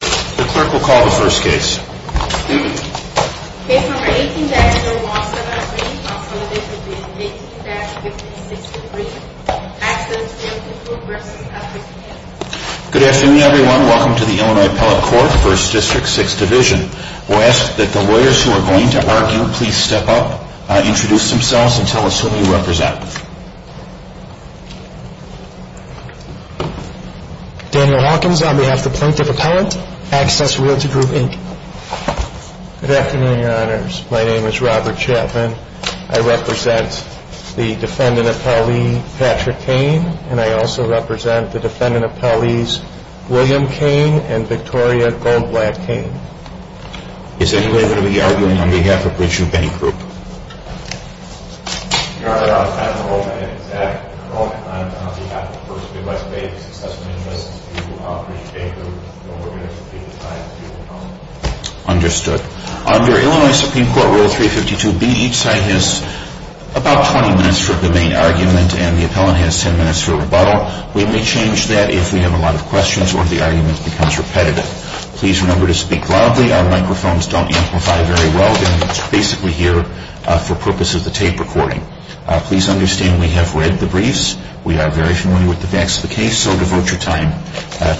The clerk will call the first case. Good afternoon, everyone. Welcome to the Illinois Appellate Court, 1st District, 6th Division. We'll ask that the lawyers who are going to argue please step up, introduce themselves, and tell us who you represent. Daniel Hawkins on behalf of the Plaintiff Appellate, Access Realty Group, Inc. Good afternoon, Your Honors. My name is Robert Chapman. I represent the defendant appellee, Patrick Kane, and I also represent the defendant appellees, William Kane and Victoria Goldblatt Kane. Is anybody going to be arguing on behalf of Richard Bancroft? Your Honor, I'm Patrick Goldman, and Patrick Goldman on behalf of 1st District, West Bay, Access Realty Group, Inc. Understood. Under Illinois Supreme Court Rule 352B, each side has about 20 minutes for the main argument, and the appellant has 10 minutes for rebuttal. We may change that if we have a lot of questions or if the argument becomes repetitive. Please remember to speak loudly. Our microphones don't amplify very well, and it's basically here for purpose of the tape recording. Please understand we have read the briefs. We are very familiar with the facts of the case, so devote your time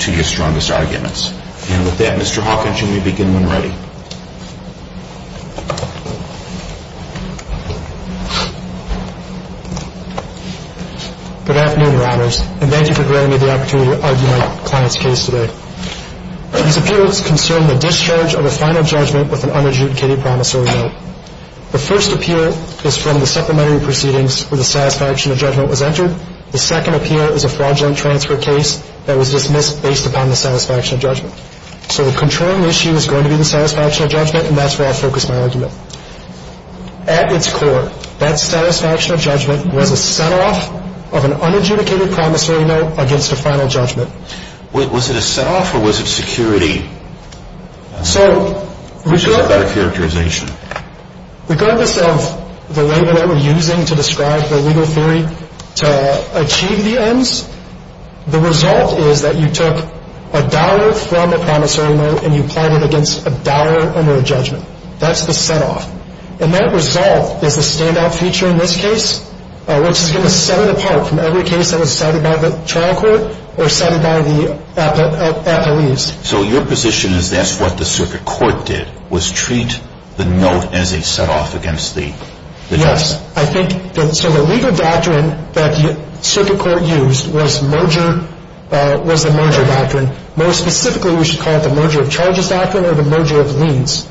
to your strongest arguments. And with that, Mr. Hawkins, you may begin when ready. Good afternoon, Your Honors, and thank you for granting me the opportunity to argue my client's case today. These appeals concern the discharge of a final judgment with an unadjudicated promissory note. The first appeal is from the supplementary proceedings where the satisfaction of judgment was entered. The second appeal is a fraudulent transfer case that was dismissed based upon the satisfaction of judgment. So the controlling issue is going to be the satisfaction of judgment, and that's where I'll focus my argument. At its core, that satisfaction of judgment was a set-off of an unadjudicated promissory note against a final judgment. Was it a set-off or was it security? Which is a better characterization? Regardless of the label that we're using to describe the legal theory to achieve the ends, the result is that you took a dollar from a promissory note and you applied it against a dollar under a judgment. That's the set-off. And that result is the standout feature in this case, which is going to set it apart from every case that was cited by the trial court or cited by the appellees. So your position is that's what the circuit court did, was treat the note as a set-off against the judgment. So the legal doctrine that the circuit court used was the merger doctrine. More specifically, we should call it the merger of charges doctrine or the merger of liens.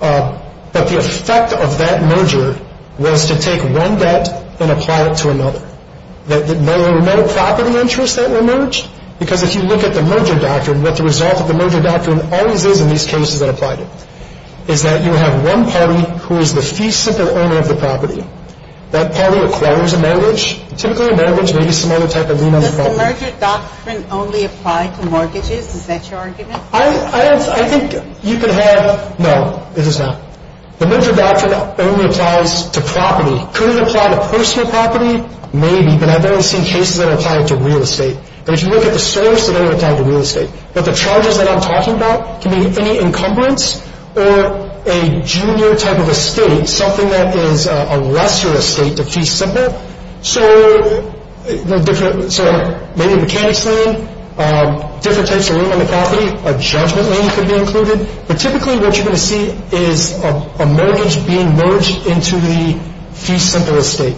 But the effect of that merger was to take one debt and apply it to another. There were no property interests that were merged, because if you look at the merger doctrine, what the result of the merger doctrine always is in these cases that applied it, is that you have one party who is the fee-simple owner of the property. That party acquires a mortgage, typically a mortgage, maybe some other type of lien on the property. Does the merger doctrine only apply to mortgages? Is that your argument? I think you could have – no, it does not. The merger doctrine only applies to property. Could it apply to personal property? Maybe, but I've only seen cases that apply it to real estate. But if you look at the source, it only applies to real estate. But the charges that I'm talking about can be any encumbrance or a junior type of estate, something that is a lesser estate, the fee-simple. So maybe a mechanics lien, different types of lien on the property, a judgment lien could be included. But typically what you're going to see is a mortgage being merged into the fee-simple estate.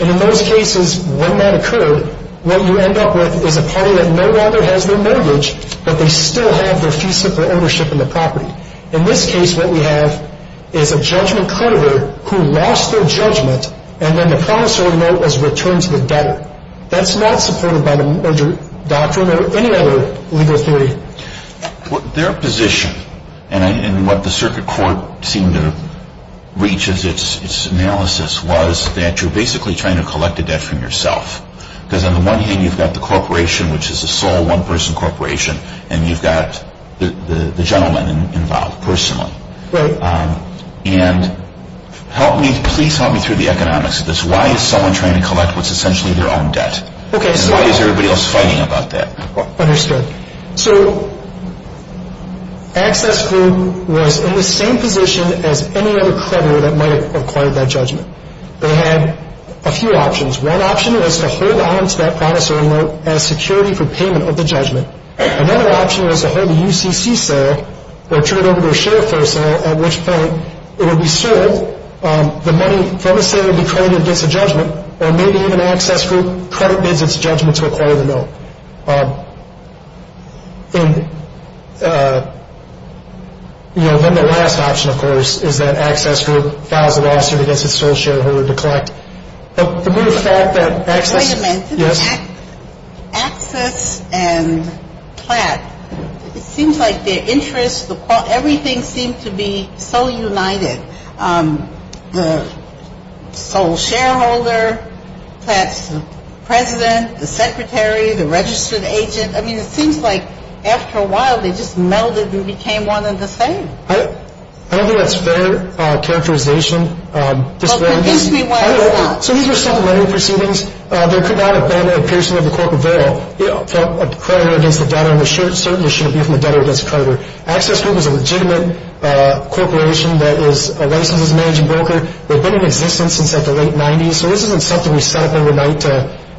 And in those cases, when that occurred, what you end up with is a party that no longer has their mortgage, but they still have their fee-simple ownership in the property. In this case, what we have is a judgment creditor who lost their judgment, and then the promissory note was returned to the debtor. That's not supported by the merger doctrine or any other legal theory. Their position, and what the circuit court seemed to reach as its analysis, was that you're basically trying to collect a debt from yourself. Because on the one hand, you've got the corporation, which is a sole one-person corporation, and you've got the gentleman involved personally. Right. And please help me through the economics of this. Why is someone trying to collect what's essentially their own debt? Why is everybody else fighting about that? Understood. So Access Group was in the same position as any other creditor that might have acquired that judgment. They had a few options. One option was to hold on to that promissory note as security for payment of the judgment. Another option was to hold the UCC sale or turn it over to a shareholder sale, at which point it would be sold. Or maybe even Access Group credit bids its judgment to acquire the note. And then the last option, of course, is that Access Group files a lawsuit against its sole shareholder to collect. But the mere fact that Access... Wait a minute. Yes? Access and Platt, it seems like their interests, everything seemed to be so united. The sole shareholder, Platt's president, the secretary, the registered agent. I mean, it seems like after a while they just melded and became one and the same. I don't think that's fair characterization. Well, convince me why it's not. So these are simple lending proceedings. There could not have been a piercing of the cork of oil from a creditor against a debtor, Access Group is a legitimate corporation that is a licenses-managing broker. They've been in existence since the late 90s. So this isn't something we set up overnight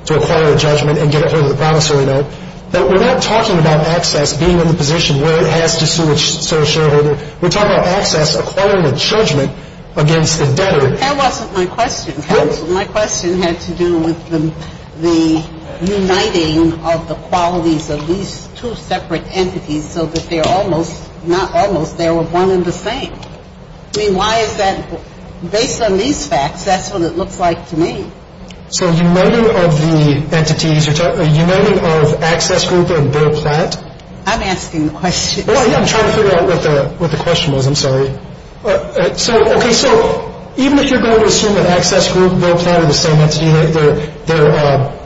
to acquire a judgment and get a hold of the promissory note. We're not talking about Access being in the position where it has to sue its sole shareholder. We're talking about Access acquiring a judgment against the debtor. That wasn't my question. What? My question had to do with the uniting of the qualities of these two separate entities so that they're almost, not almost, they're one and the same. I mean, why is that? Based on these facts, that's what it looks like to me. So uniting of the entities, uniting of Access Group and Bill Platt? I'm asking the question. I'm trying to figure out what the question was. I'm sorry. So, okay, so even if you're going to assume that Access Group, Bill Platt are the same entity,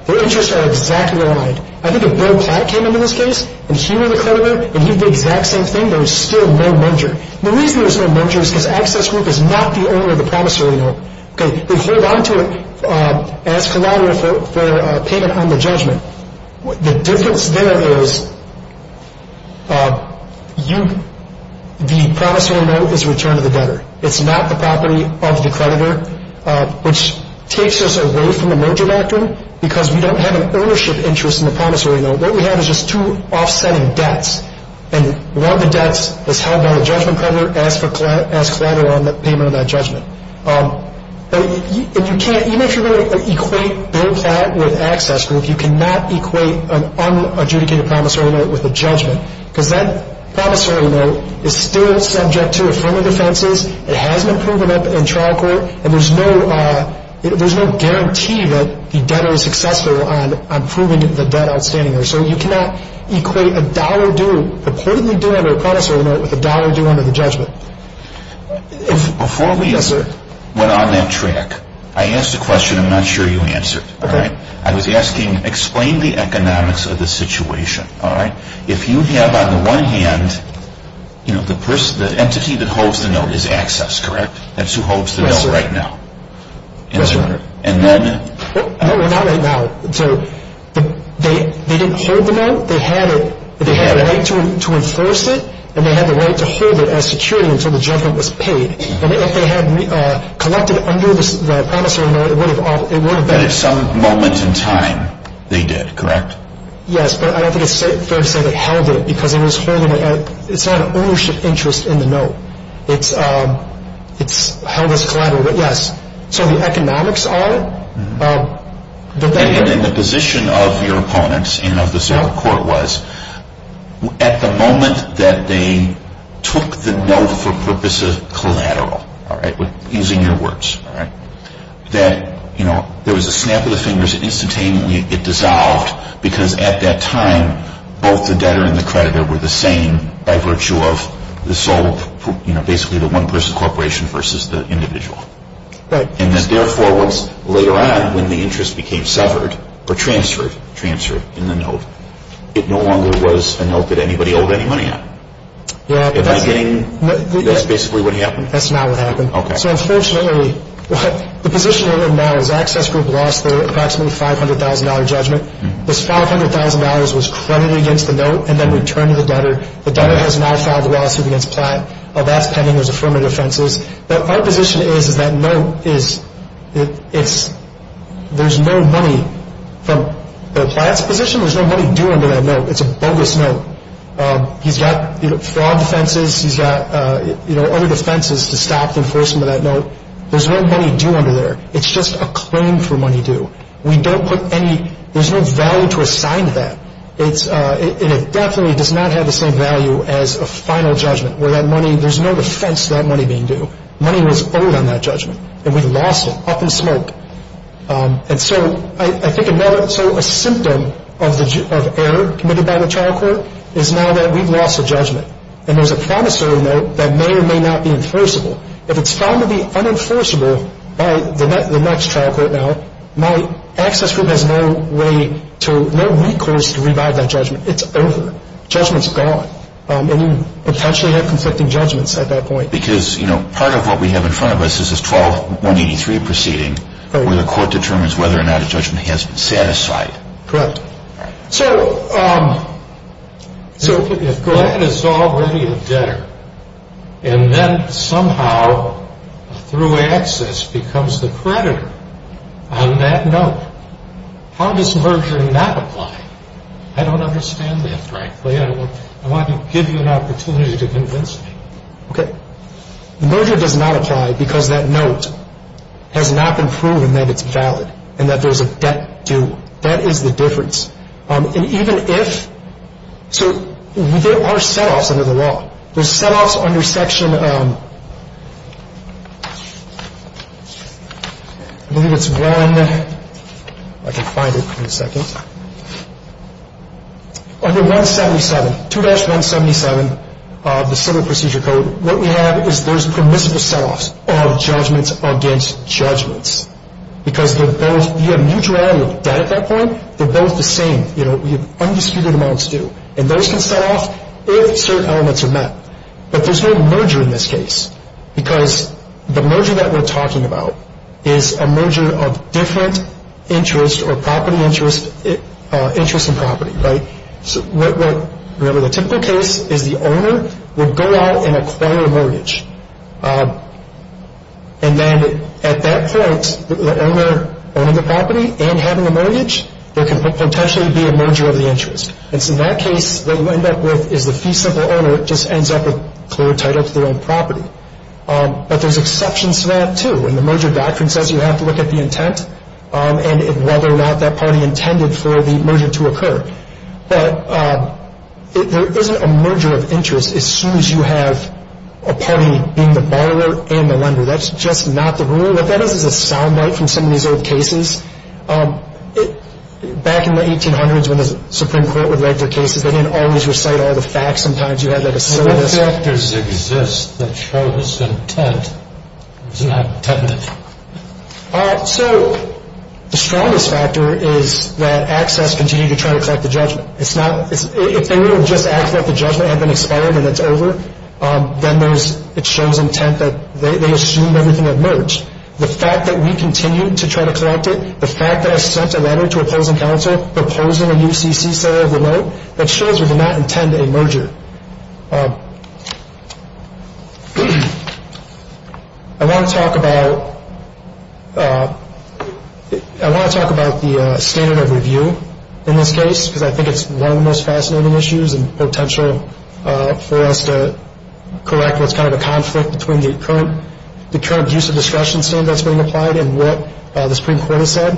their interests are exactly aligned. I think if Bill Platt came into this case and he were the creditor and he did the exact same thing, there was still no merger. The reason there was no merger is because Access Group is not the owner of the promissory note. They hold on to it as collateral for payment on the judgment. The difference there is you, the promissory note is returned to the debtor. It's not the property of the creditor, which takes us away from the merger doctrine because we don't have an ownership interest in the promissory note. What we have is just two offsetting debts, and one of the debts is held by the judgment creditor as collateral on the payment of that judgment. Even if you're going to equate Bill Platt with Access Group, you cannot equate an unadjudicated promissory note with a judgment because that promissory note is still subject to affirmative defenses. It hasn't been proven up in trial court, and there's no guarantee that the debtor is successful on proving the debt outstanding. So you cannot equate a dollar due, purportedly due under a promissory note, with a dollar due under the judgment. Before we went on that track, I asked a question I'm not sure you answered. I was asking, explain the economics of the situation. If you have, on the one hand, the entity that holds the note is Access, correct? That's who holds the note right now. Yes, sir. And then? Well, not right now. They didn't hold the note. They had a right to enforce it, and they had the right to hold it as security until the judgment was paid. And if they had collected under the promissory note, it would have been… But at some moment in time, they did, correct? Yes, but I don't think it's fair to say they held it, because it's not an ownership interest in the note. It's held as collateral. Yes, so the economics are… And the position of your opponents and of the Zero Court was, at the moment that they took the note for purposes of collateral, using your words, that there was a snap of the fingers, and instantaneously it dissolved, because at that time, both the debtor and the creditor were the same by virtue of basically the one-person corporation versus the individual. Right. And therefore, later on, when the interest became severed or transferred in the note, it no longer was a note that anybody owed any money on. Yeah, but that's… In the beginning, that's basically what happened. That's not what happened. Okay. So, unfortunately, the position we're in now is Access Group lost their approximately $500,000 judgment. This $500,000 was credited against the note and then returned to the debtor. The debtor has now filed a lawsuit against Platt. That's pending. There's affirmative offenses. But our position is that note is… There's no money from the Platt's position. There's no money due under that note. It's a bogus note. He's got fraud offenses. He's got, you know, other defenses to stop the enforcement of that note. There's no money due under there. It's just a claim for money due. We don't put any… There's no value to assign to that. And it definitely does not have the same value as a final judgment where that money… There's no defense to that money being due. Money was owed on that judgment. And we lost it up in smoke. And so I think another… So a symptom of error committed by the trial court is now that we've lost a judgment. And there's a promissory note that may or may not be enforceable. If it's found to be unenforceable by the next trial court now, my access group has no way to…no recourse to revive that judgment. It's over. Judgment's gone. And you potentially have conflicting judgments at that point. Because, you know, part of what we have in front of us is this 12-183 proceeding where the court determines whether or not a judgment has been satisfied. Correct. So if Glenn is already a debtor and then somehow a thruway access becomes the creditor on that note, how does merger not apply? I don't understand that, frankly. I want to give you an opportunity to convince me. Okay. Merger does not apply because that note has not been proven that it's valid and that there's a debt due. That is the difference. And even if…so there are set-offs under the law. There's set-offs under Section…I believe it's 1…I can find it in a second. Under 177, 2-177 of the Civil Procedure Code, what we have is there's permissible set-offs of judgments against judgments. Because they're both…we have mutuality of debt at that point. They're both the same. You know, we have undisputed amounts due. And those can set-off if certain elements are met. But there's no merger in this case because the merger that we're talking about is a merger of different interests or property interest…interest in property, right? And then at that point, the owner owning the property and having a mortgage, there can potentially be a merger of the interest. And so in that case, what you end up with is the fee-simple owner just ends up with clear title to their own property. But there's exceptions to that, too. And the merger doctrine says you have to look at the intent and whether or not that party intended for the merger to occur. But there isn't a merger of interest as soon as you have a party being the borrower and the lender. That's just not the rule. What that is is a sound bite from some of these old cases. Back in the 1800s when the Supreme Court would write their cases, they didn't always recite all the facts. Sometimes you had like a syllabus… But what factors exist that show this intent was not intended? So the strongest factor is that ACCESS continued to try to collect the judgment. It's not…if they would have just asked that the judgment had been expired and it's over, then there's…it shows intent that they assumed everything had merged. The fact that we continued to try to collect it, the fact that I sent a letter to opposing counsel proposing a new CC center of remote, that shows we did not intend a merger. I want to talk about…I want to talk about the standard of review in this case because I think it's one of the most fascinating issues and potential for us to correct what's kind of a conflict between the current use of discretion standard that's being applied and what the Supreme Court has said.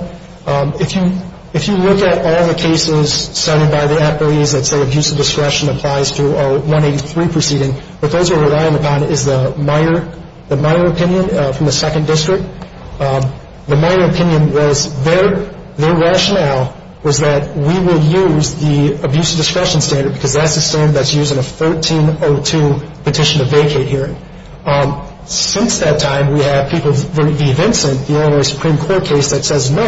If you…if you look at all the cases cited by the appellees that say abuse of discretion applies to our 183 proceeding, what those are relying upon is the Meijer…the Meijer opinion from the 2nd District. The Meijer opinion was their…their rationale was that we will use the abuse of discretion standard because that's the standard that's used in a 1302 petition to vacate hearing. Since that time, we have people…Vincent, the Illinois Supreme Court case that says, no,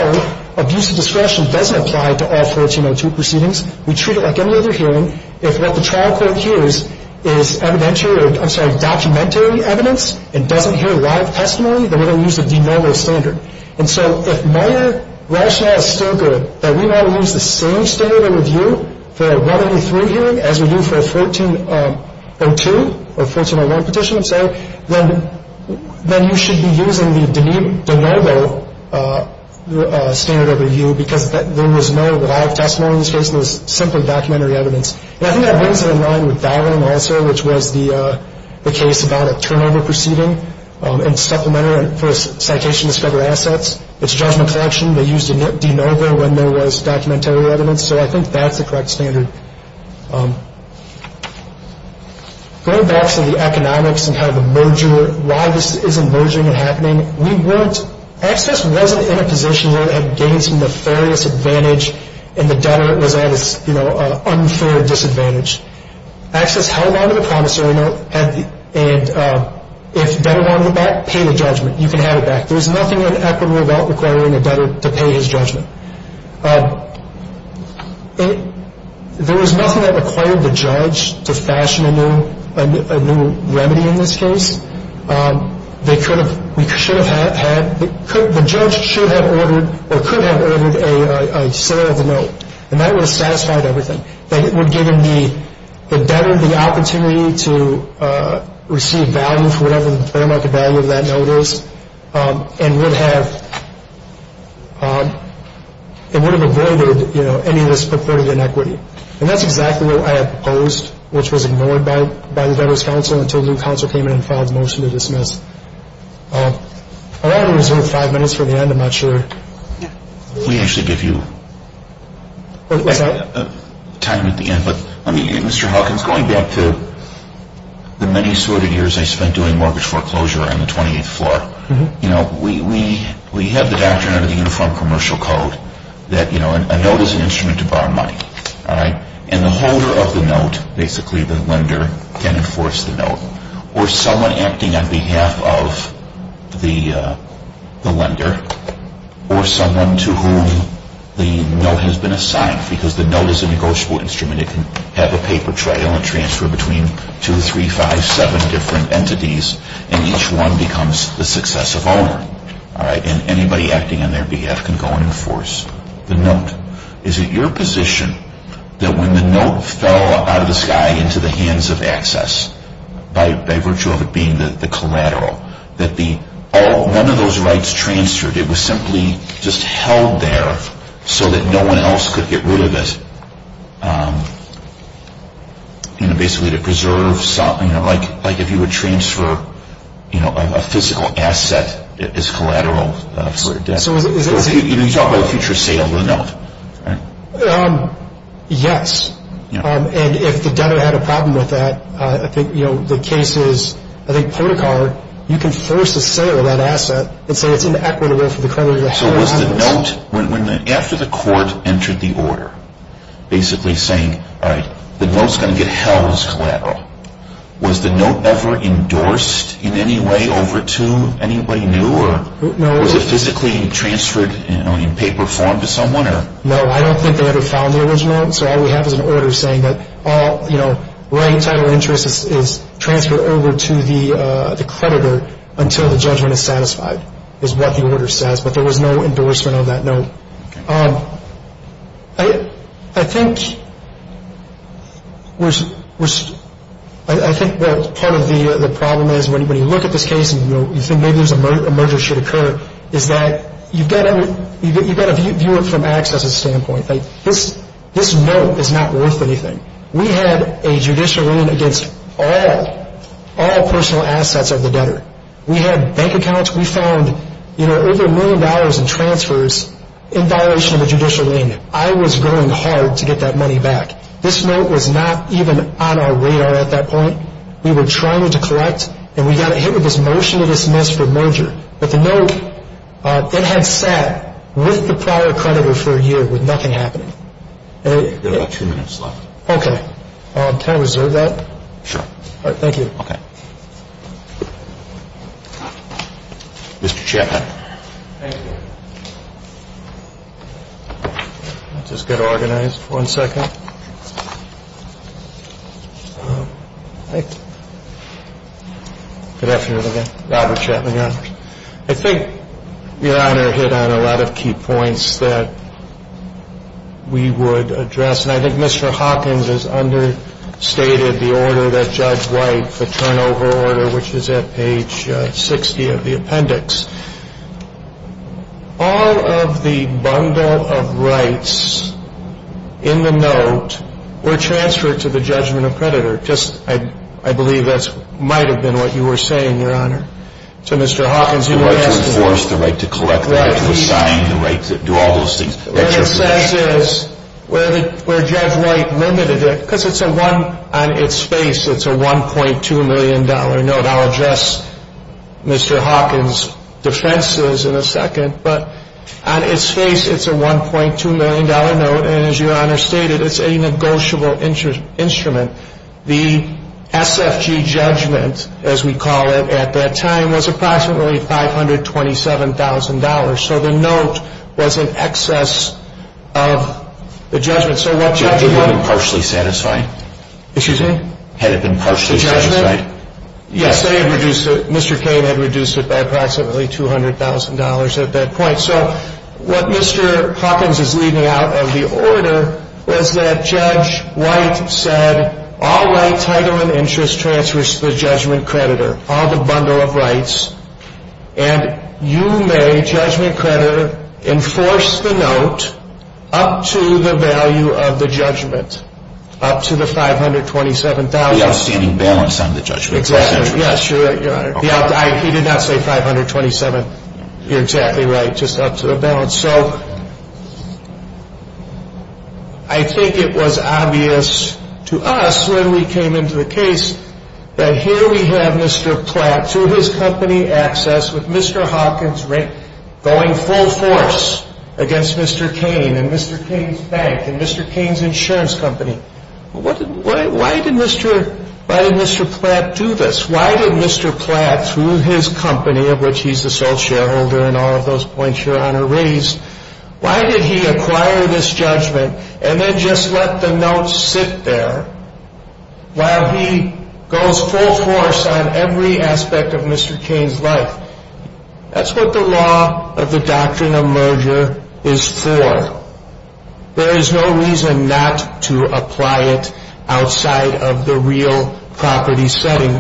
abuse of discretion doesn't apply to all 1402 proceedings. We treat it like any other hearing. If what the trial court hears is evidentiary…I'm sorry, documentary evidence and doesn't hear live testimony, then we're going to use the de novo standard. And so if Meijer rationale is still good, that we want to use the same standard of review for a 183 hearing as we do for a 1402 or 1401 petition, I'm sorry, then…then you should be using the de novo standard of review because there was no live testimony in this case. It was simply documentary evidence. And I think that brings it in line with that one also, which was the…the case about a turnover proceeding and supplementary for a citation to discover assets. It's a judgment collection. They used de novo when there was documentary evidence. So I think that's the correct standard. Going back to the economics and kind of the merger, why this isn't merging and happening, we weren't… Access wasn't in a position where it had gained some nefarious advantage and the debtor was at, you know, an unfair disadvantage. Access held on to the promissory note and if debtor wanted it back, pay the judgment. You can have it back. There was nothing inequitable about requiring a debtor to pay his judgment. There was nothing that required the judge to fashion a new…a new remedy in this case. They could have…we should have had…the judge should have ordered or could have ordered a sale of the note. And that would have satisfied everything. It would give him the debtor the opportunity to receive value for whatever the fair market value of that note is and would have…it would have avoided, you know, any of this purported inequity. And that's exactly what I had proposed, which was ignored by the debtor's counsel until new counsel came in and filed a motion to dismiss. I want to reserve five minutes for the end. I'm not sure. We actually give you time at the end. But, I mean, Mr. Hawkins, going back to the many sordid years I spent doing mortgage foreclosure on the 28th floor, you know, we have the doctrine under the Uniform Commercial Code that, you know, a note is an instrument to borrow money. And the holder of the note, basically the lender, can enforce the note. Or someone acting on behalf of the lender or someone to whom the note has been assigned because the note is a negotiable instrument. It can have a paper trail and transfer between two, three, five, seven different entities and each one becomes the successive owner. And anybody acting on their behalf can go and enforce the note. Is it your position that when the note fell out of the sky into the hands of access, by virtue of it being the collateral, that one of those rights transferred, it was simply just held there so that no one else could get rid of it, you know, basically to preserve something? You know, like if you would transfer, you know, a physical asset as collateral for your debt. So is that... You talk about a future sale of the note, right? Yes. And if the debtor had a problem with that, I think, you know, the case is, I think, Policar, you can force a sale of that asset and say it's inequitable for the creditor to have it. So was the note, after the court entered the order, basically saying, all right, the note's going to get held as collateral, was the note ever endorsed in any way over to anybody new or... No. Was it physically transferred in paper form to someone or... No, I don't think they ever found the original. So all we have is an order saying that, you know, writing title of interest is transferred over to the creditor until the judgment is satisfied is what the order says, but there was no endorsement of that note. I think we're... I think part of the problem is when you look at this case and you think maybe a merger should occur is that you've got to view it from access standpoint. This note is not worth anything. We had a judicial ruling against all personal assets of the debtor. We had bank accounts. We found, you know, over a million dollars in transfers in violation of a judicial ruling. I was going hard to get that money back. This note was not even on our radar at that point. We were trying to collect, and we got hit with this motion to dismiss for merger. But the note, it had sat with the prior creditor for a year with nothing happening. We've got about two minutes left. Okay. Can I reserve that? Sure. All right, thank you. Okay. Mr. Chatman. Thank you. Let's just get organized for one second. Good afternoon again. Robert Chatman, Your Honor. I think, Your Honor, hit on a lot of key points that we would address, and I think Mr. Hawkins has understated the order that Judge White, the turnover order, which is at page 60 of the appendix. All of the bundle of rights in the note were transferred to the judgment of creditor. I believe that might have been what you were saying, Your Honor. To Mr. Hawkins, you may ask him. The right to enforce, the right to collect, the right to assign, the right to do all those things. Where it says is, where Judge White limited it, because it's a one, on its face, it's a $1.2 million note. I'll address Mr. Hawkins' defenses in a second, but on its face, it's a $1.2 million note, and as Your Honor stated, it's a negotiable instrument. The SFG judgment, as we call it at that time, was approximately $527,000. So the note was in excess of the judgment. Had it been partially satisfied? Excuse me? Had it been partially satisfied? The judgment? Yes. They had reduced it. Mr. Cain had reduced it by approximately $200,000 at that point. So what Mr. Hawkins is leaving out of the order is that Judge White said, all right, title and interest transfers to the judgment creditor, all the bundle of rights, and you may, judgment creditor, enforce the note up to the value of the judgment, up to the $527,000. The outstanding balance on the judgment. Exactly. Yes, Your Honor. He did not say $527,000. You're exactly right, just up to the balance. So I think it was obvious to us when we came into the case that here we have Mr. Platt, through his company access, with Mr. Hawkins going full force against Mr. Cain and Mr. Cain's bank and Mr. Cain's insurance company. Why did Mr. Platt do this? Why did Mr. Platt, through his company, of which he's the sole shareholder and all of those points Your Honor raised, why did he acquire this judgment and then just let the notes sit there while he goes full force on every aspect of Mr. Cain's life? That's what the law of the doctrine of merger is for. There is no reason not to apply it outside of the real property setting.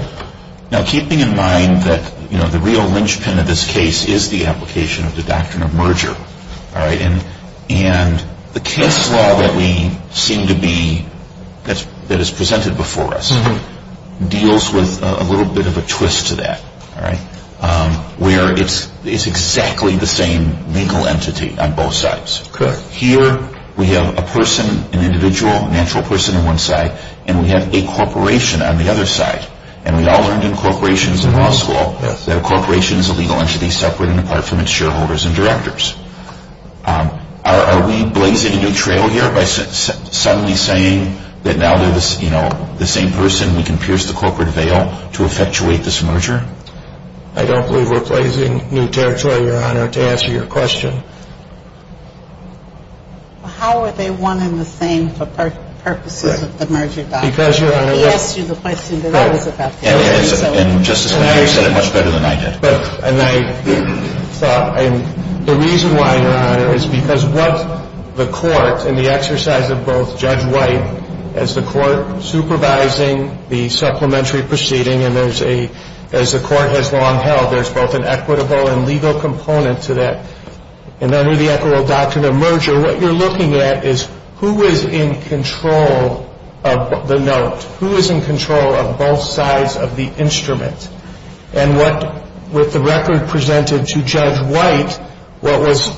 Now keeping in mind that the real linchpin of this case is the application of the doctrine of merger, and the case law that we seem to be, that is presented before us, deals with a little bit of a twist to that, where it's exactly the same legal entity on both sides. Here we have a person, an individual, a natural person on one side, and we have a corporation on the other side. And we all learned in corporations in law school that a corporation is a legal entity separate and apart from its shareholders and directors. Are we blazing a new trail here by suddenly saying that now they're the same person, we can pierce the corporate veil to effectuate this merger? I don't believe we're blazing new territory, Your Honor, to answer your question. Well, how are they one and the same for purposes of the merger doctrine? Because, Your Honor. He asked you the question that I was about to ask. And Justice Kennedy said it much better than I did. And I thought the reason why, Your Honor, is because what the court in the exercise of both Judge White as the court supervising the supplementary proceeding and as the court has long held, there's both an equitable and legal component to that. And under the equitable doctrine of merger, what you're looking at is who is in control of the note, who is in control of both sides of the instrument. And what the record presented to Judge White, what was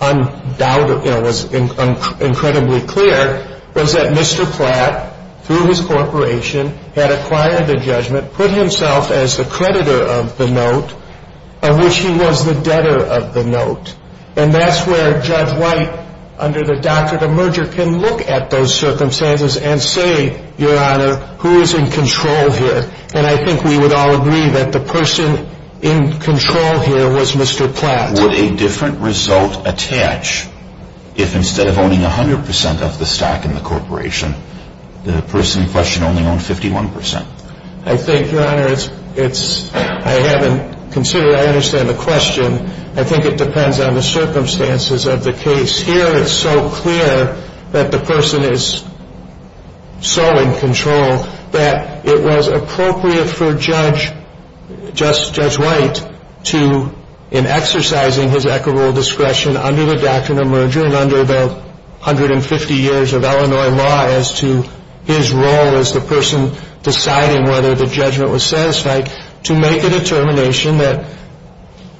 undoubtedly, was incredibly clear, was that Mr. Platt, through his corporation, had acquired the judgment, put himself as the creditor of the note of which he was the debtor of the note. And that's where Judge White, under the doctrine of merger, can look at those circumstances and say, Your Honor, who is in control here? And I think we would all agree that the person in control here was Mr. Platt. But would a different result attach if instead of owning 100% of the stock in the corporation, the person in question only owned 51%? I think, Your Honor, I haven't considered it. I understand the question. I think it depends on the circumstances of the case. Here it's so clear that the person is so in control that it was appropriate for Judge White to, in exercising his equitable discretion under the doctrine of merger and under the 150 years of Illinois law as to his role as the person deciding whether the judgment was satisfied, to make a determination that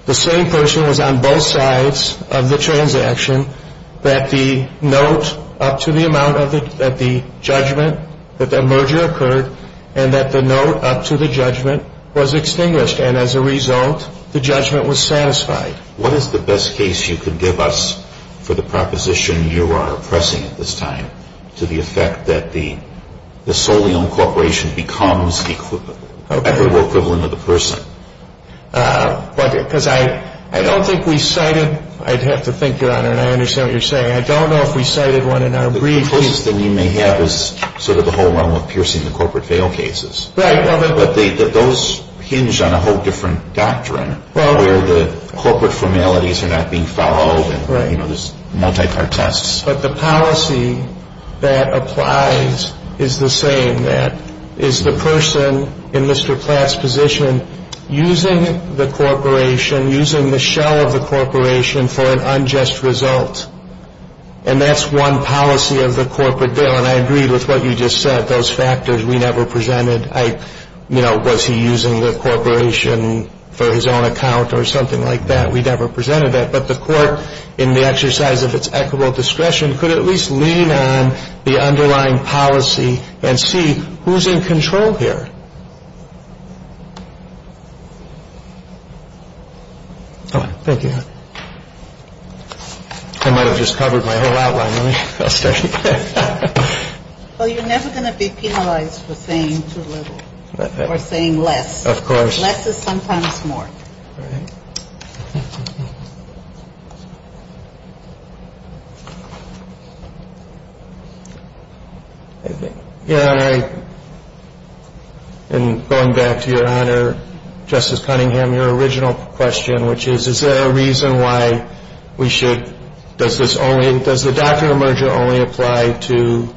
the same person was on both sides of the transaction, that the note up to the amount of the judgment, that the merger occurred, and that the note up to the judgment was extinguished. And as a result, the judgment was satisfied. What is the best case you could give us for the proposition you are pressing at this time to the effect that the solely owned corporation becomes the equitable equivalent of the person? Because I don't think we cited – I'd have to think, Your Honor, and I understand what you're saying. I don't know if we cited one in our brief. The closest thing we may have is sort of the whole realm of piercing the corporate fail cases. Right. But those hinge on a whole different doctrine where the corporate formalities are not being followed. Right. You know, there's multi-part tests. But the policy that applies is the same. That is the person in Mr. Platt's position using the corporation, using the shell of the corporation for an unjust result, and that's one policy of the corporate bill. And I agree with what you just said, those factors we never presented. I – you know, was he using the corporation for his own account or something like that? We never presented that. But the Court, in the exercise of its equitable discretion, could at least lean on the underlying policy and see who's in control here. All right. Thank you, Your Honor. I might have just covered my whole outline. Let me – I'll start again. Well, you're never going to be penalized for saying too little or saying less. Of course. Less is sometimes more. Right. Your Honor, in going back to Your Honor, Justice Cunningham, your original question, which is, is there a reason why we should – does this only – does this only apply to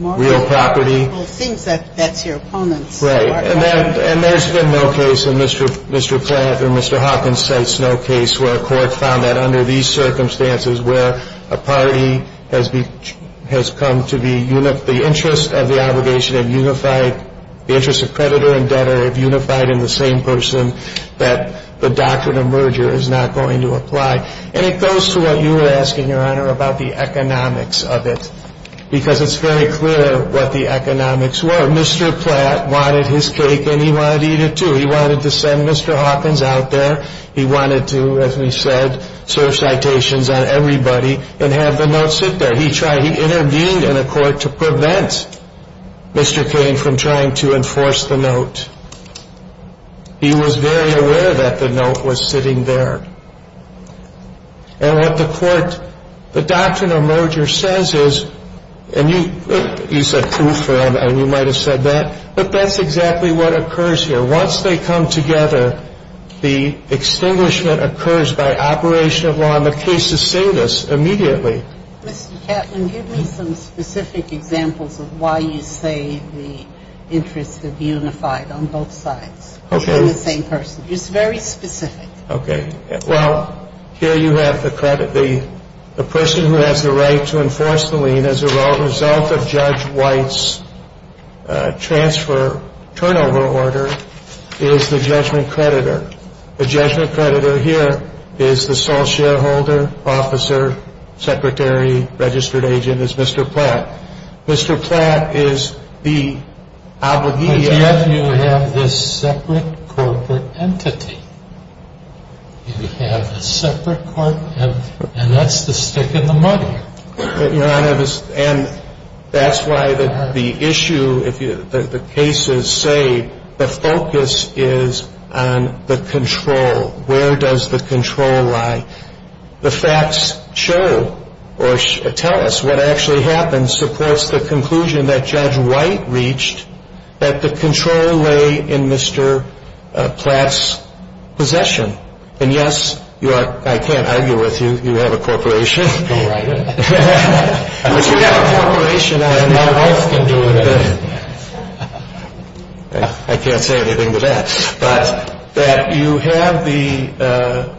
real property? Well, I think that that's your opponent's argument. Right. And there's been no case in Mr. Platt or Mr. Hawkins' case, no case where a court found that under these circumstances where a party has come to be – the interest of the obligation of unified – the interest of creditor and debtor have unified in the same person, that the doctrine of merger is not going to apply. And it goes to what you were asking, Your Honor, about the economics of it because it's very clear what the economics were. Mr. Platt wanted his cake and he wanted to eat it too. He wanted to send Mr. Hawkins out there. He wanted to, as we said, serve citations on everybody and have the note sit there. He tried – he intervened in a court to prevent Mr. Kane from trying to enforce the note. He was very aware that the note was sitting there. And what the court – the doctrine of merger says is – and you said proof, Your Honor, and you might have said that, but that's exactly what occurs here. Once they come together, the extinguishment occurs by operation of law. And the cases say this immediately. Mr. Kaplan, give me some specific examples of why you say the interest of unified on both sides. Okay. In the same person. It's very specific. Okay. Well, here you have the person who has the right to enforce the lien as a result of Judge White's transfer turnover order is the judgment creditor. The judgment creditor here is the sole shareholder, officer, secretary, registered agent is Mr. Platt. Mr. Platt is the – And yet you have this separate corporate entity. You have a separate corporate – and that's the stick in the mud here. Your Honor, and that's why the issue – the cases say the focus is on the control. Where does the control lie? The facts show or tell us what actually happens supports the conclusion that Judge White reached that the control lay in Mr. Platt's possession. And, yes, I can't argue with you. You have a corporation. All right. But you have a corporation. I can't say anything to that. But that you have the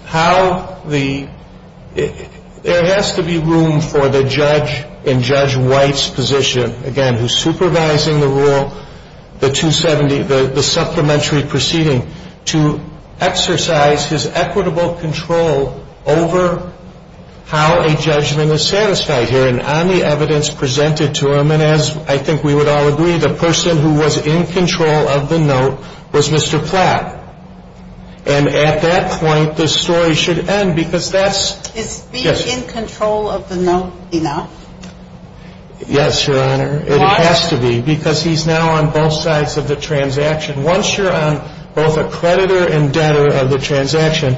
– how the – there has to be room for the judge in Judge White's position, again, who's supervising the rule, the 270, the supplementary proceeding, to exercise his equitable control over how a judgment is satisfied here. And on the evidence presented to him, and as I think we would all agree, the person who was in control of the note was Mr. Platt. And at that point, the story should end because that's – Is being in control of the note enough? Yes, Your Honor. Why? It has to be because he's now on both sides of the transaction. Once you're on both a creditor and debtor of the transaction,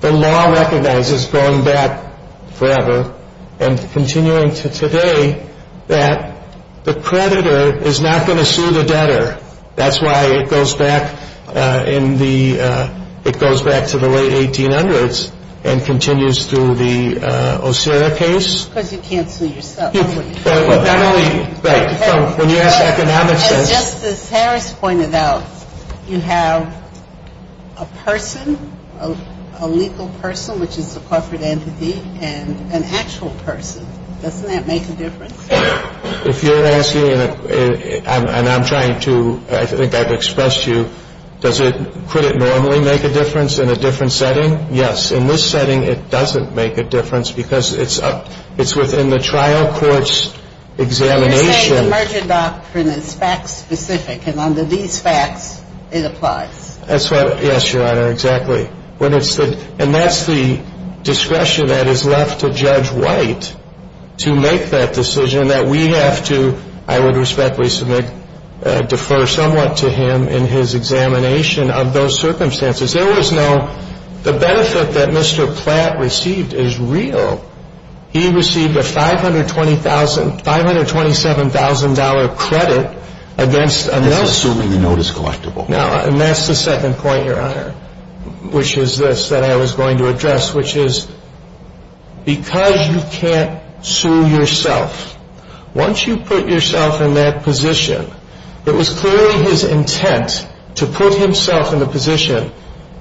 the law recognizes going back forever and continuing to today that the creditor is not going to sue the debtor. That's why it goes back in the – it goes back to the late 1800s and continues through the Osiris case. Because you cancel yourself. Not only – right. When you ask economics – As Justice Harris pointed out, you have a person, a legal person, which is a coffered entity, and an actual person. Doesn't that make a difference? If you're asking – and I'm trying to – I think I've expressed to you, does it – could it normally make a difference in a different setting? Yes. In this setting, it doesn't make a difference because it's up – it's within the trial court's examination. You're saying the merger doctrine is fact-specific, and under these facts, it applies. That's what – yes, Your Honor, exactly. And that's the discretion that is left to Judge White to make that decision, that we have to, I would respectfully submit, defer somewhat to him in his examination of those circumstances. There was no – the benefit that Mr. Platt received is real. He received a $520,000 – $527,000 credit against a notice. Assuming the note is collectible. Now, and that's the second point, Your Honor, which is this, that I was going to address, which is because you can't sue yourself, once you put yourself in that position, it was clearly his intent to put himself in the position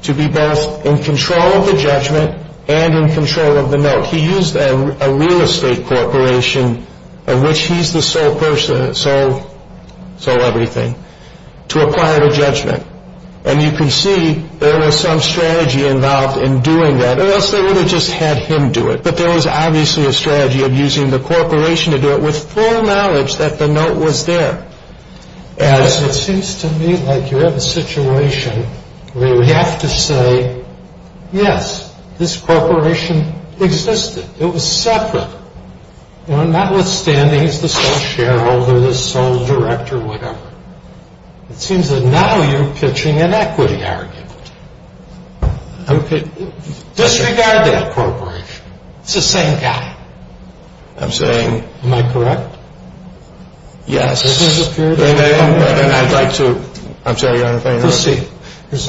to be both in control of the judgment and in control of the note. He used a real estate corporation, of which he's the sole person, sole everything, to acquire the judgment. And you can see there was some strategy involved in doing that, or else they would have just had him do it. But there was obviously a strategy of using the corporation to do it with full knowledge that the note was there. As it seems to me like you have a situation where you have to say, yes, this corporation existed. It was separate. Notwithstanding, he's the sole shareholder, the sole director, whatever. It seems that now you're pitching an equity argument. Okay. Disregard that corporation. It's the same guy. I'm saying – Am I correct? Yes. I'd like to – I'm sorry, Your Honor, if I interrupt. Proceed.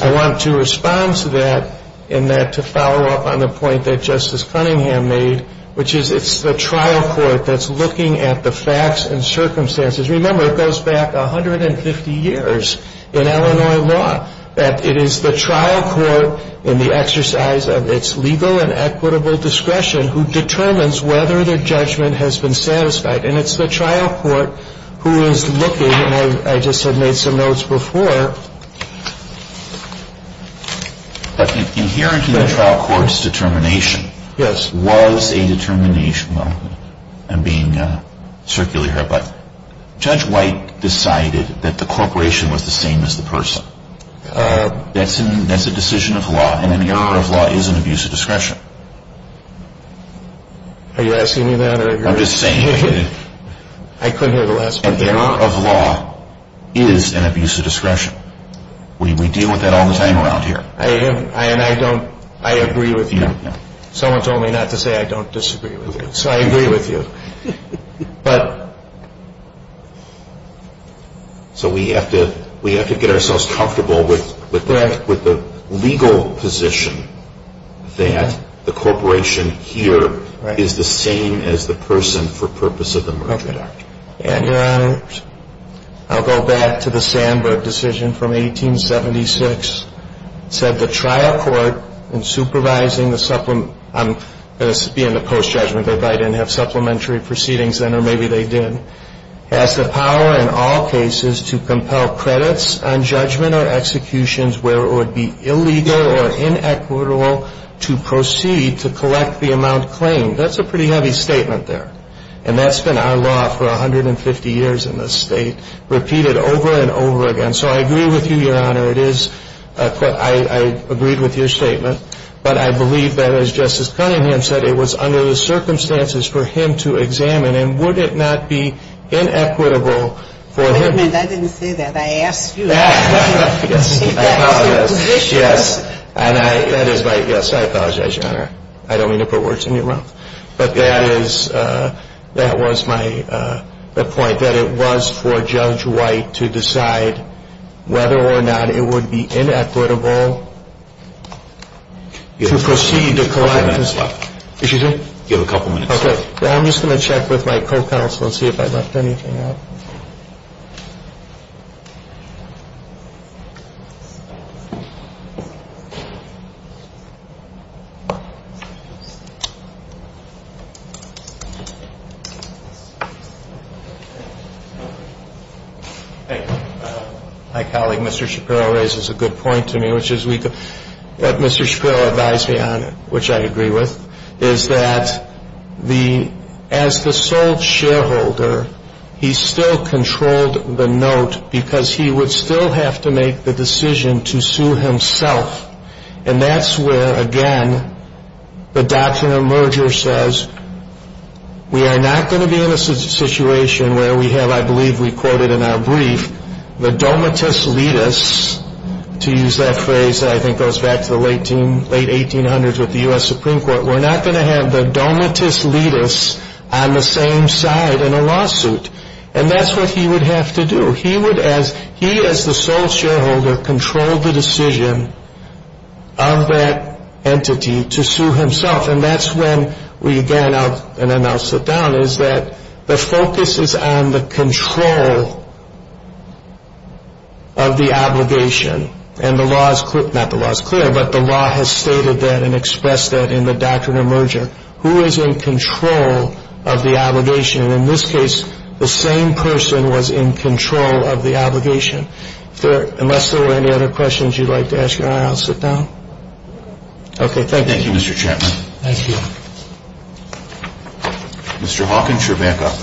I want to respond to that and to follow up on the point that Justice Cunningham made, which is it's the trial court that's looking at the facts and circumstances. Remember, it goes back 150 years in Illinois law that it is the trial court in the exercise of its legal and equitable discretion who determines whether the judgment has been satisfied. And it's the trial court who is looking – and I just had made some notes before. Inherently, the trial court's determination was a determination. I'm being circular here, but Judge White decided that the corporation was the same as the person. That's a decision of law, and an error of law is an abuse of discretion. Are you asking me that? I'm just saying that an error of law is an abuse of discretion. We deal with that all the time around here. I agree with you. Someone told me not to say I don't disagree with you, so I agree with you. So we have to get ourselves comfortable with the legal position that the corporation here is the same as the person for purpose of the Merger Act. And, Your Honor, I'll go back to the Sandberg decision from 1876. It said the trial court, in supervising the – this would be in the post-judgment, if I didn't have supplementary proceedings then, or maybe they did – has the power in all cases to compel credits on judgment or executions where it would be illegal or inequitable to proceed to collect the amount claimed. That's a pretty heavy statement there. And that's been our law for 150 years in this state, repeated over and over again. So I agree with you, Your Honor. It is – I agreed with your statement. But I believe that, as Justice Cunningham said, it was under the circumstances for him to examine. And would it not be inequitable for him? Wait a minute. I didn't say that. I asked you. Yes. I apologize. Yes. And I – that is my – yes, I apologize, Your Honor. I don't mean to put words in your mouth. But that is – that was my – the point, that it was for Judge White to decide whether or not it would be inequitable to proceed to collect – You have five minutes left. Excuse me? You have a couple minutes left. Okay. Well, I'm just going to check with my co-counsel and see if I left anything out. My colleague, Mr. Shapiro, raises a good point to me, which is we could – as the sole shareholder, he still controlled the note because he would still have to make the decision to sue himself. And that's where, again, the doctrine of merger says we are not going to be in a situation where we have, I believe we quoted in our brief, the domitus litis, to use that phrase that I think goes back to the late 1800s with the U.S. Supreme Court. We're not going to have the domitus litis on the same side in a lawsuit. And that's what he would have to do. He would, as – he, as the sole shareholder, controlled the decision of that entity to sue himself. And that's when we, again – and then I'll sit down – is that the focus is on the control of the obligation. And the law is – not the law is clear, but the law has stated that and expressed that in the doctrine of merger. Who is in control of the obligation? In this case, the same person was in control of the obligation. Unless there were any other questions you'd like to ask, I'll sit down. Okay. Thank you, Mr. Chairman. Thank you. Mr. Hawkins, you're back up.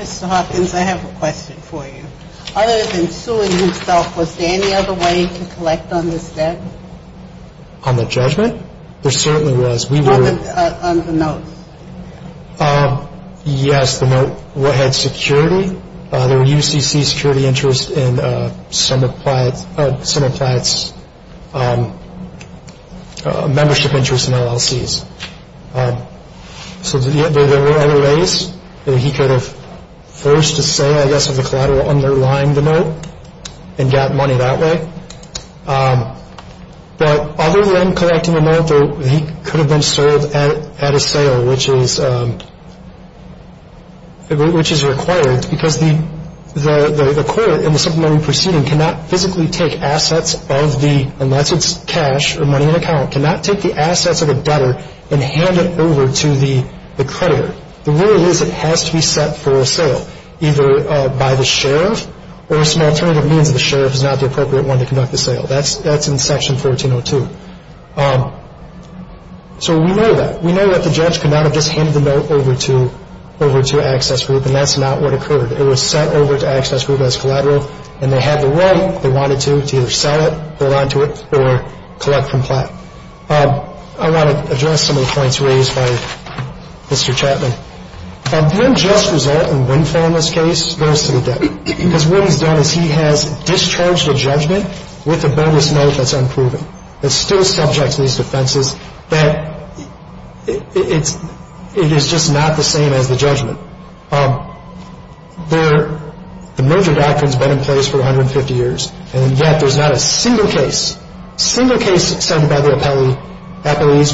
Mr. Hawkins, I have a question for you. Other than suing himself, was there any other way to collect on this debt? On the judgment? There certainly was. On the notes. Yes, the note had security. There were UCC security interests in some of Platt's membership interests in LLCs. So there were other ways that he could have forced a sale, I guess, of the collateral underlying the note and got money that way. But other than collecting a note, he could have been sold at a sale, which is required, because the court in the supplementary proceeding cannot physically take assets of the – unless it's cash or money in account – cannot take the assets of a debtor and hand it over to the creditor. The rule is it has to be set for a sale, either by the sheriff, or some alternative means of the sheriff is not the appropriate one to conduct the sale. That's in Section 1402. So we know that. We know that the judge could not have just handed the note over to Access Group, and that's not what occurred. It was sent over to Access Group as collateral, and they had the right, if they wanted to, to either sell it, hold on to it, or collect from Platt. I want to address some of the points raised by Mr. Chapman. The unjust result in Wynne Farmer's case goes to the debtor, because what he's done is he has discharged a judgment with a bonus note that's unproven, that's still subject to these defenses, that it is just not the same as the judgment. The merger doctrine has been in place for 150 years, and yet there's not a single case, single case sent by the appellees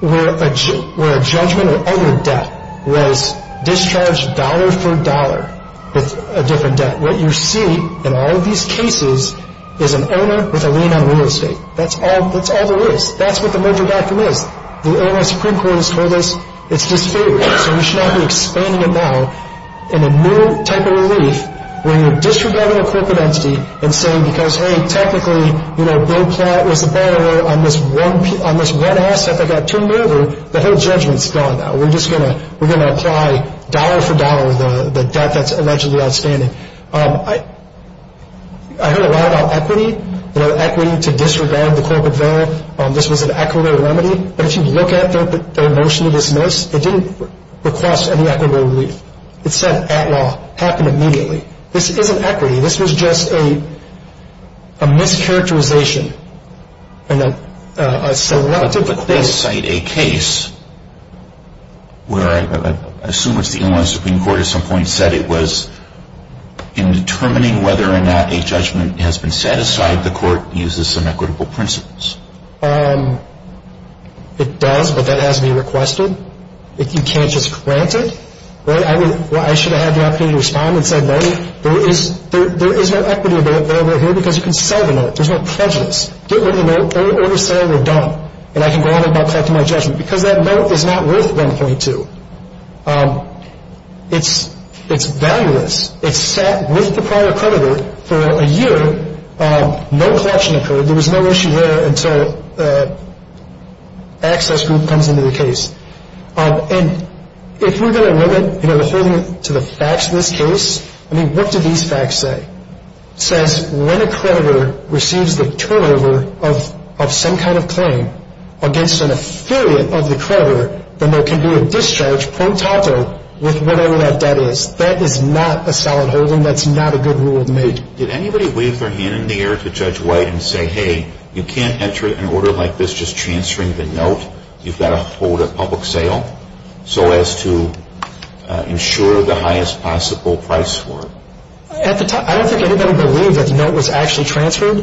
where a judgment or other debt was discharged dollar for dollar with a different debt. What you see in all of these cases is an owner with a lien on real estate. That's all there is. That's what the merger doctrine is. The Illinois Supreme Court has told us it's disfigured, so we should not be expanding it now. In a new type of relief, when you're disregarding a corporate entity and saying, because, hey, technically, you know, Bill Platt was the borrower on this one asset that got turned over, the whole judgment's gone now. We're just going to apply dollar for dollar the debt that's allegedly outstanding. I heard a lot about equity, you know, equity to disregard the corporate veil. This was an equitable remedy, but if you look at their motion to dismiss, it didn't request any equitable relief. It said, at law, happen immediately. This isn't equity. This was just a mischaracterization. But they cite a case where I assume it's the Illinois Supreme Court at some point said it was in determining whether or not a judgment has been set aside, the court uses some equitable principles. It does, but that has to be requested. You can't just grant it. I should have had the opportunity to respond and said, no, there is no equity available here because you can sell the note. There's no prejudice. Get rid of the note. Don't oversell or dump, and I can go on about collecting my judgment because that note is not worth 1.2. It's valueless. It sat with the prior creditor for a year. No collection occurred. There was no issue there until the access group comes into the case. And if we're going to limit, you know, the holding to the facts in this case, I mean, what do these facts say? It says when a creditor receives the turnover of some kind of claim against an affiliate of the creditor, then there can be a discharge pro tato with whatever that debt is. That is not a solid holding. That's not a good rule to make. And did anybody wave their hand in the air to Judge White and say, hey, you can't enter an order like this just transferring the note. You've got to hold a public sale so as to ensure the highest possible price for it. At the time, I don't think anybody believed that the note was actually transferred.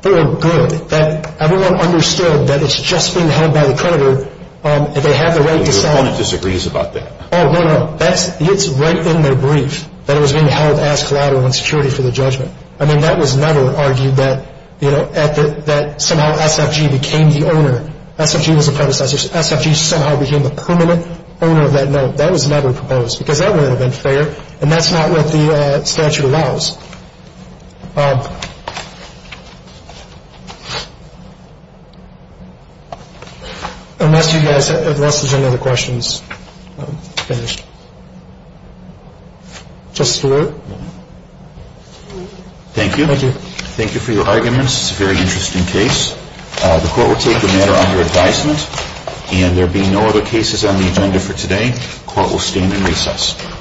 They were good. Everyone understood that it's just being held by the creditor and they have the right to sell it. Your opponent disagrees about that. Oh, no, no. It's right in their brief that it was being held as collateral insecurity for the judgment. I mean, that was never argued that, you know, that somehow SFG became the owner. SFG was a predecessor. SFG somehow became the permanent owner of that note. That was never proposed because that would have been fair, and that's not what the statute allows. Unless you guys have questions. I'm finished. Justice Verrilli. Thank you. Thank you for your arguments. It's a very interesting case. The court will take the matter under advisement. And there will be no other cases on the agenda for today. The court will stand in recess.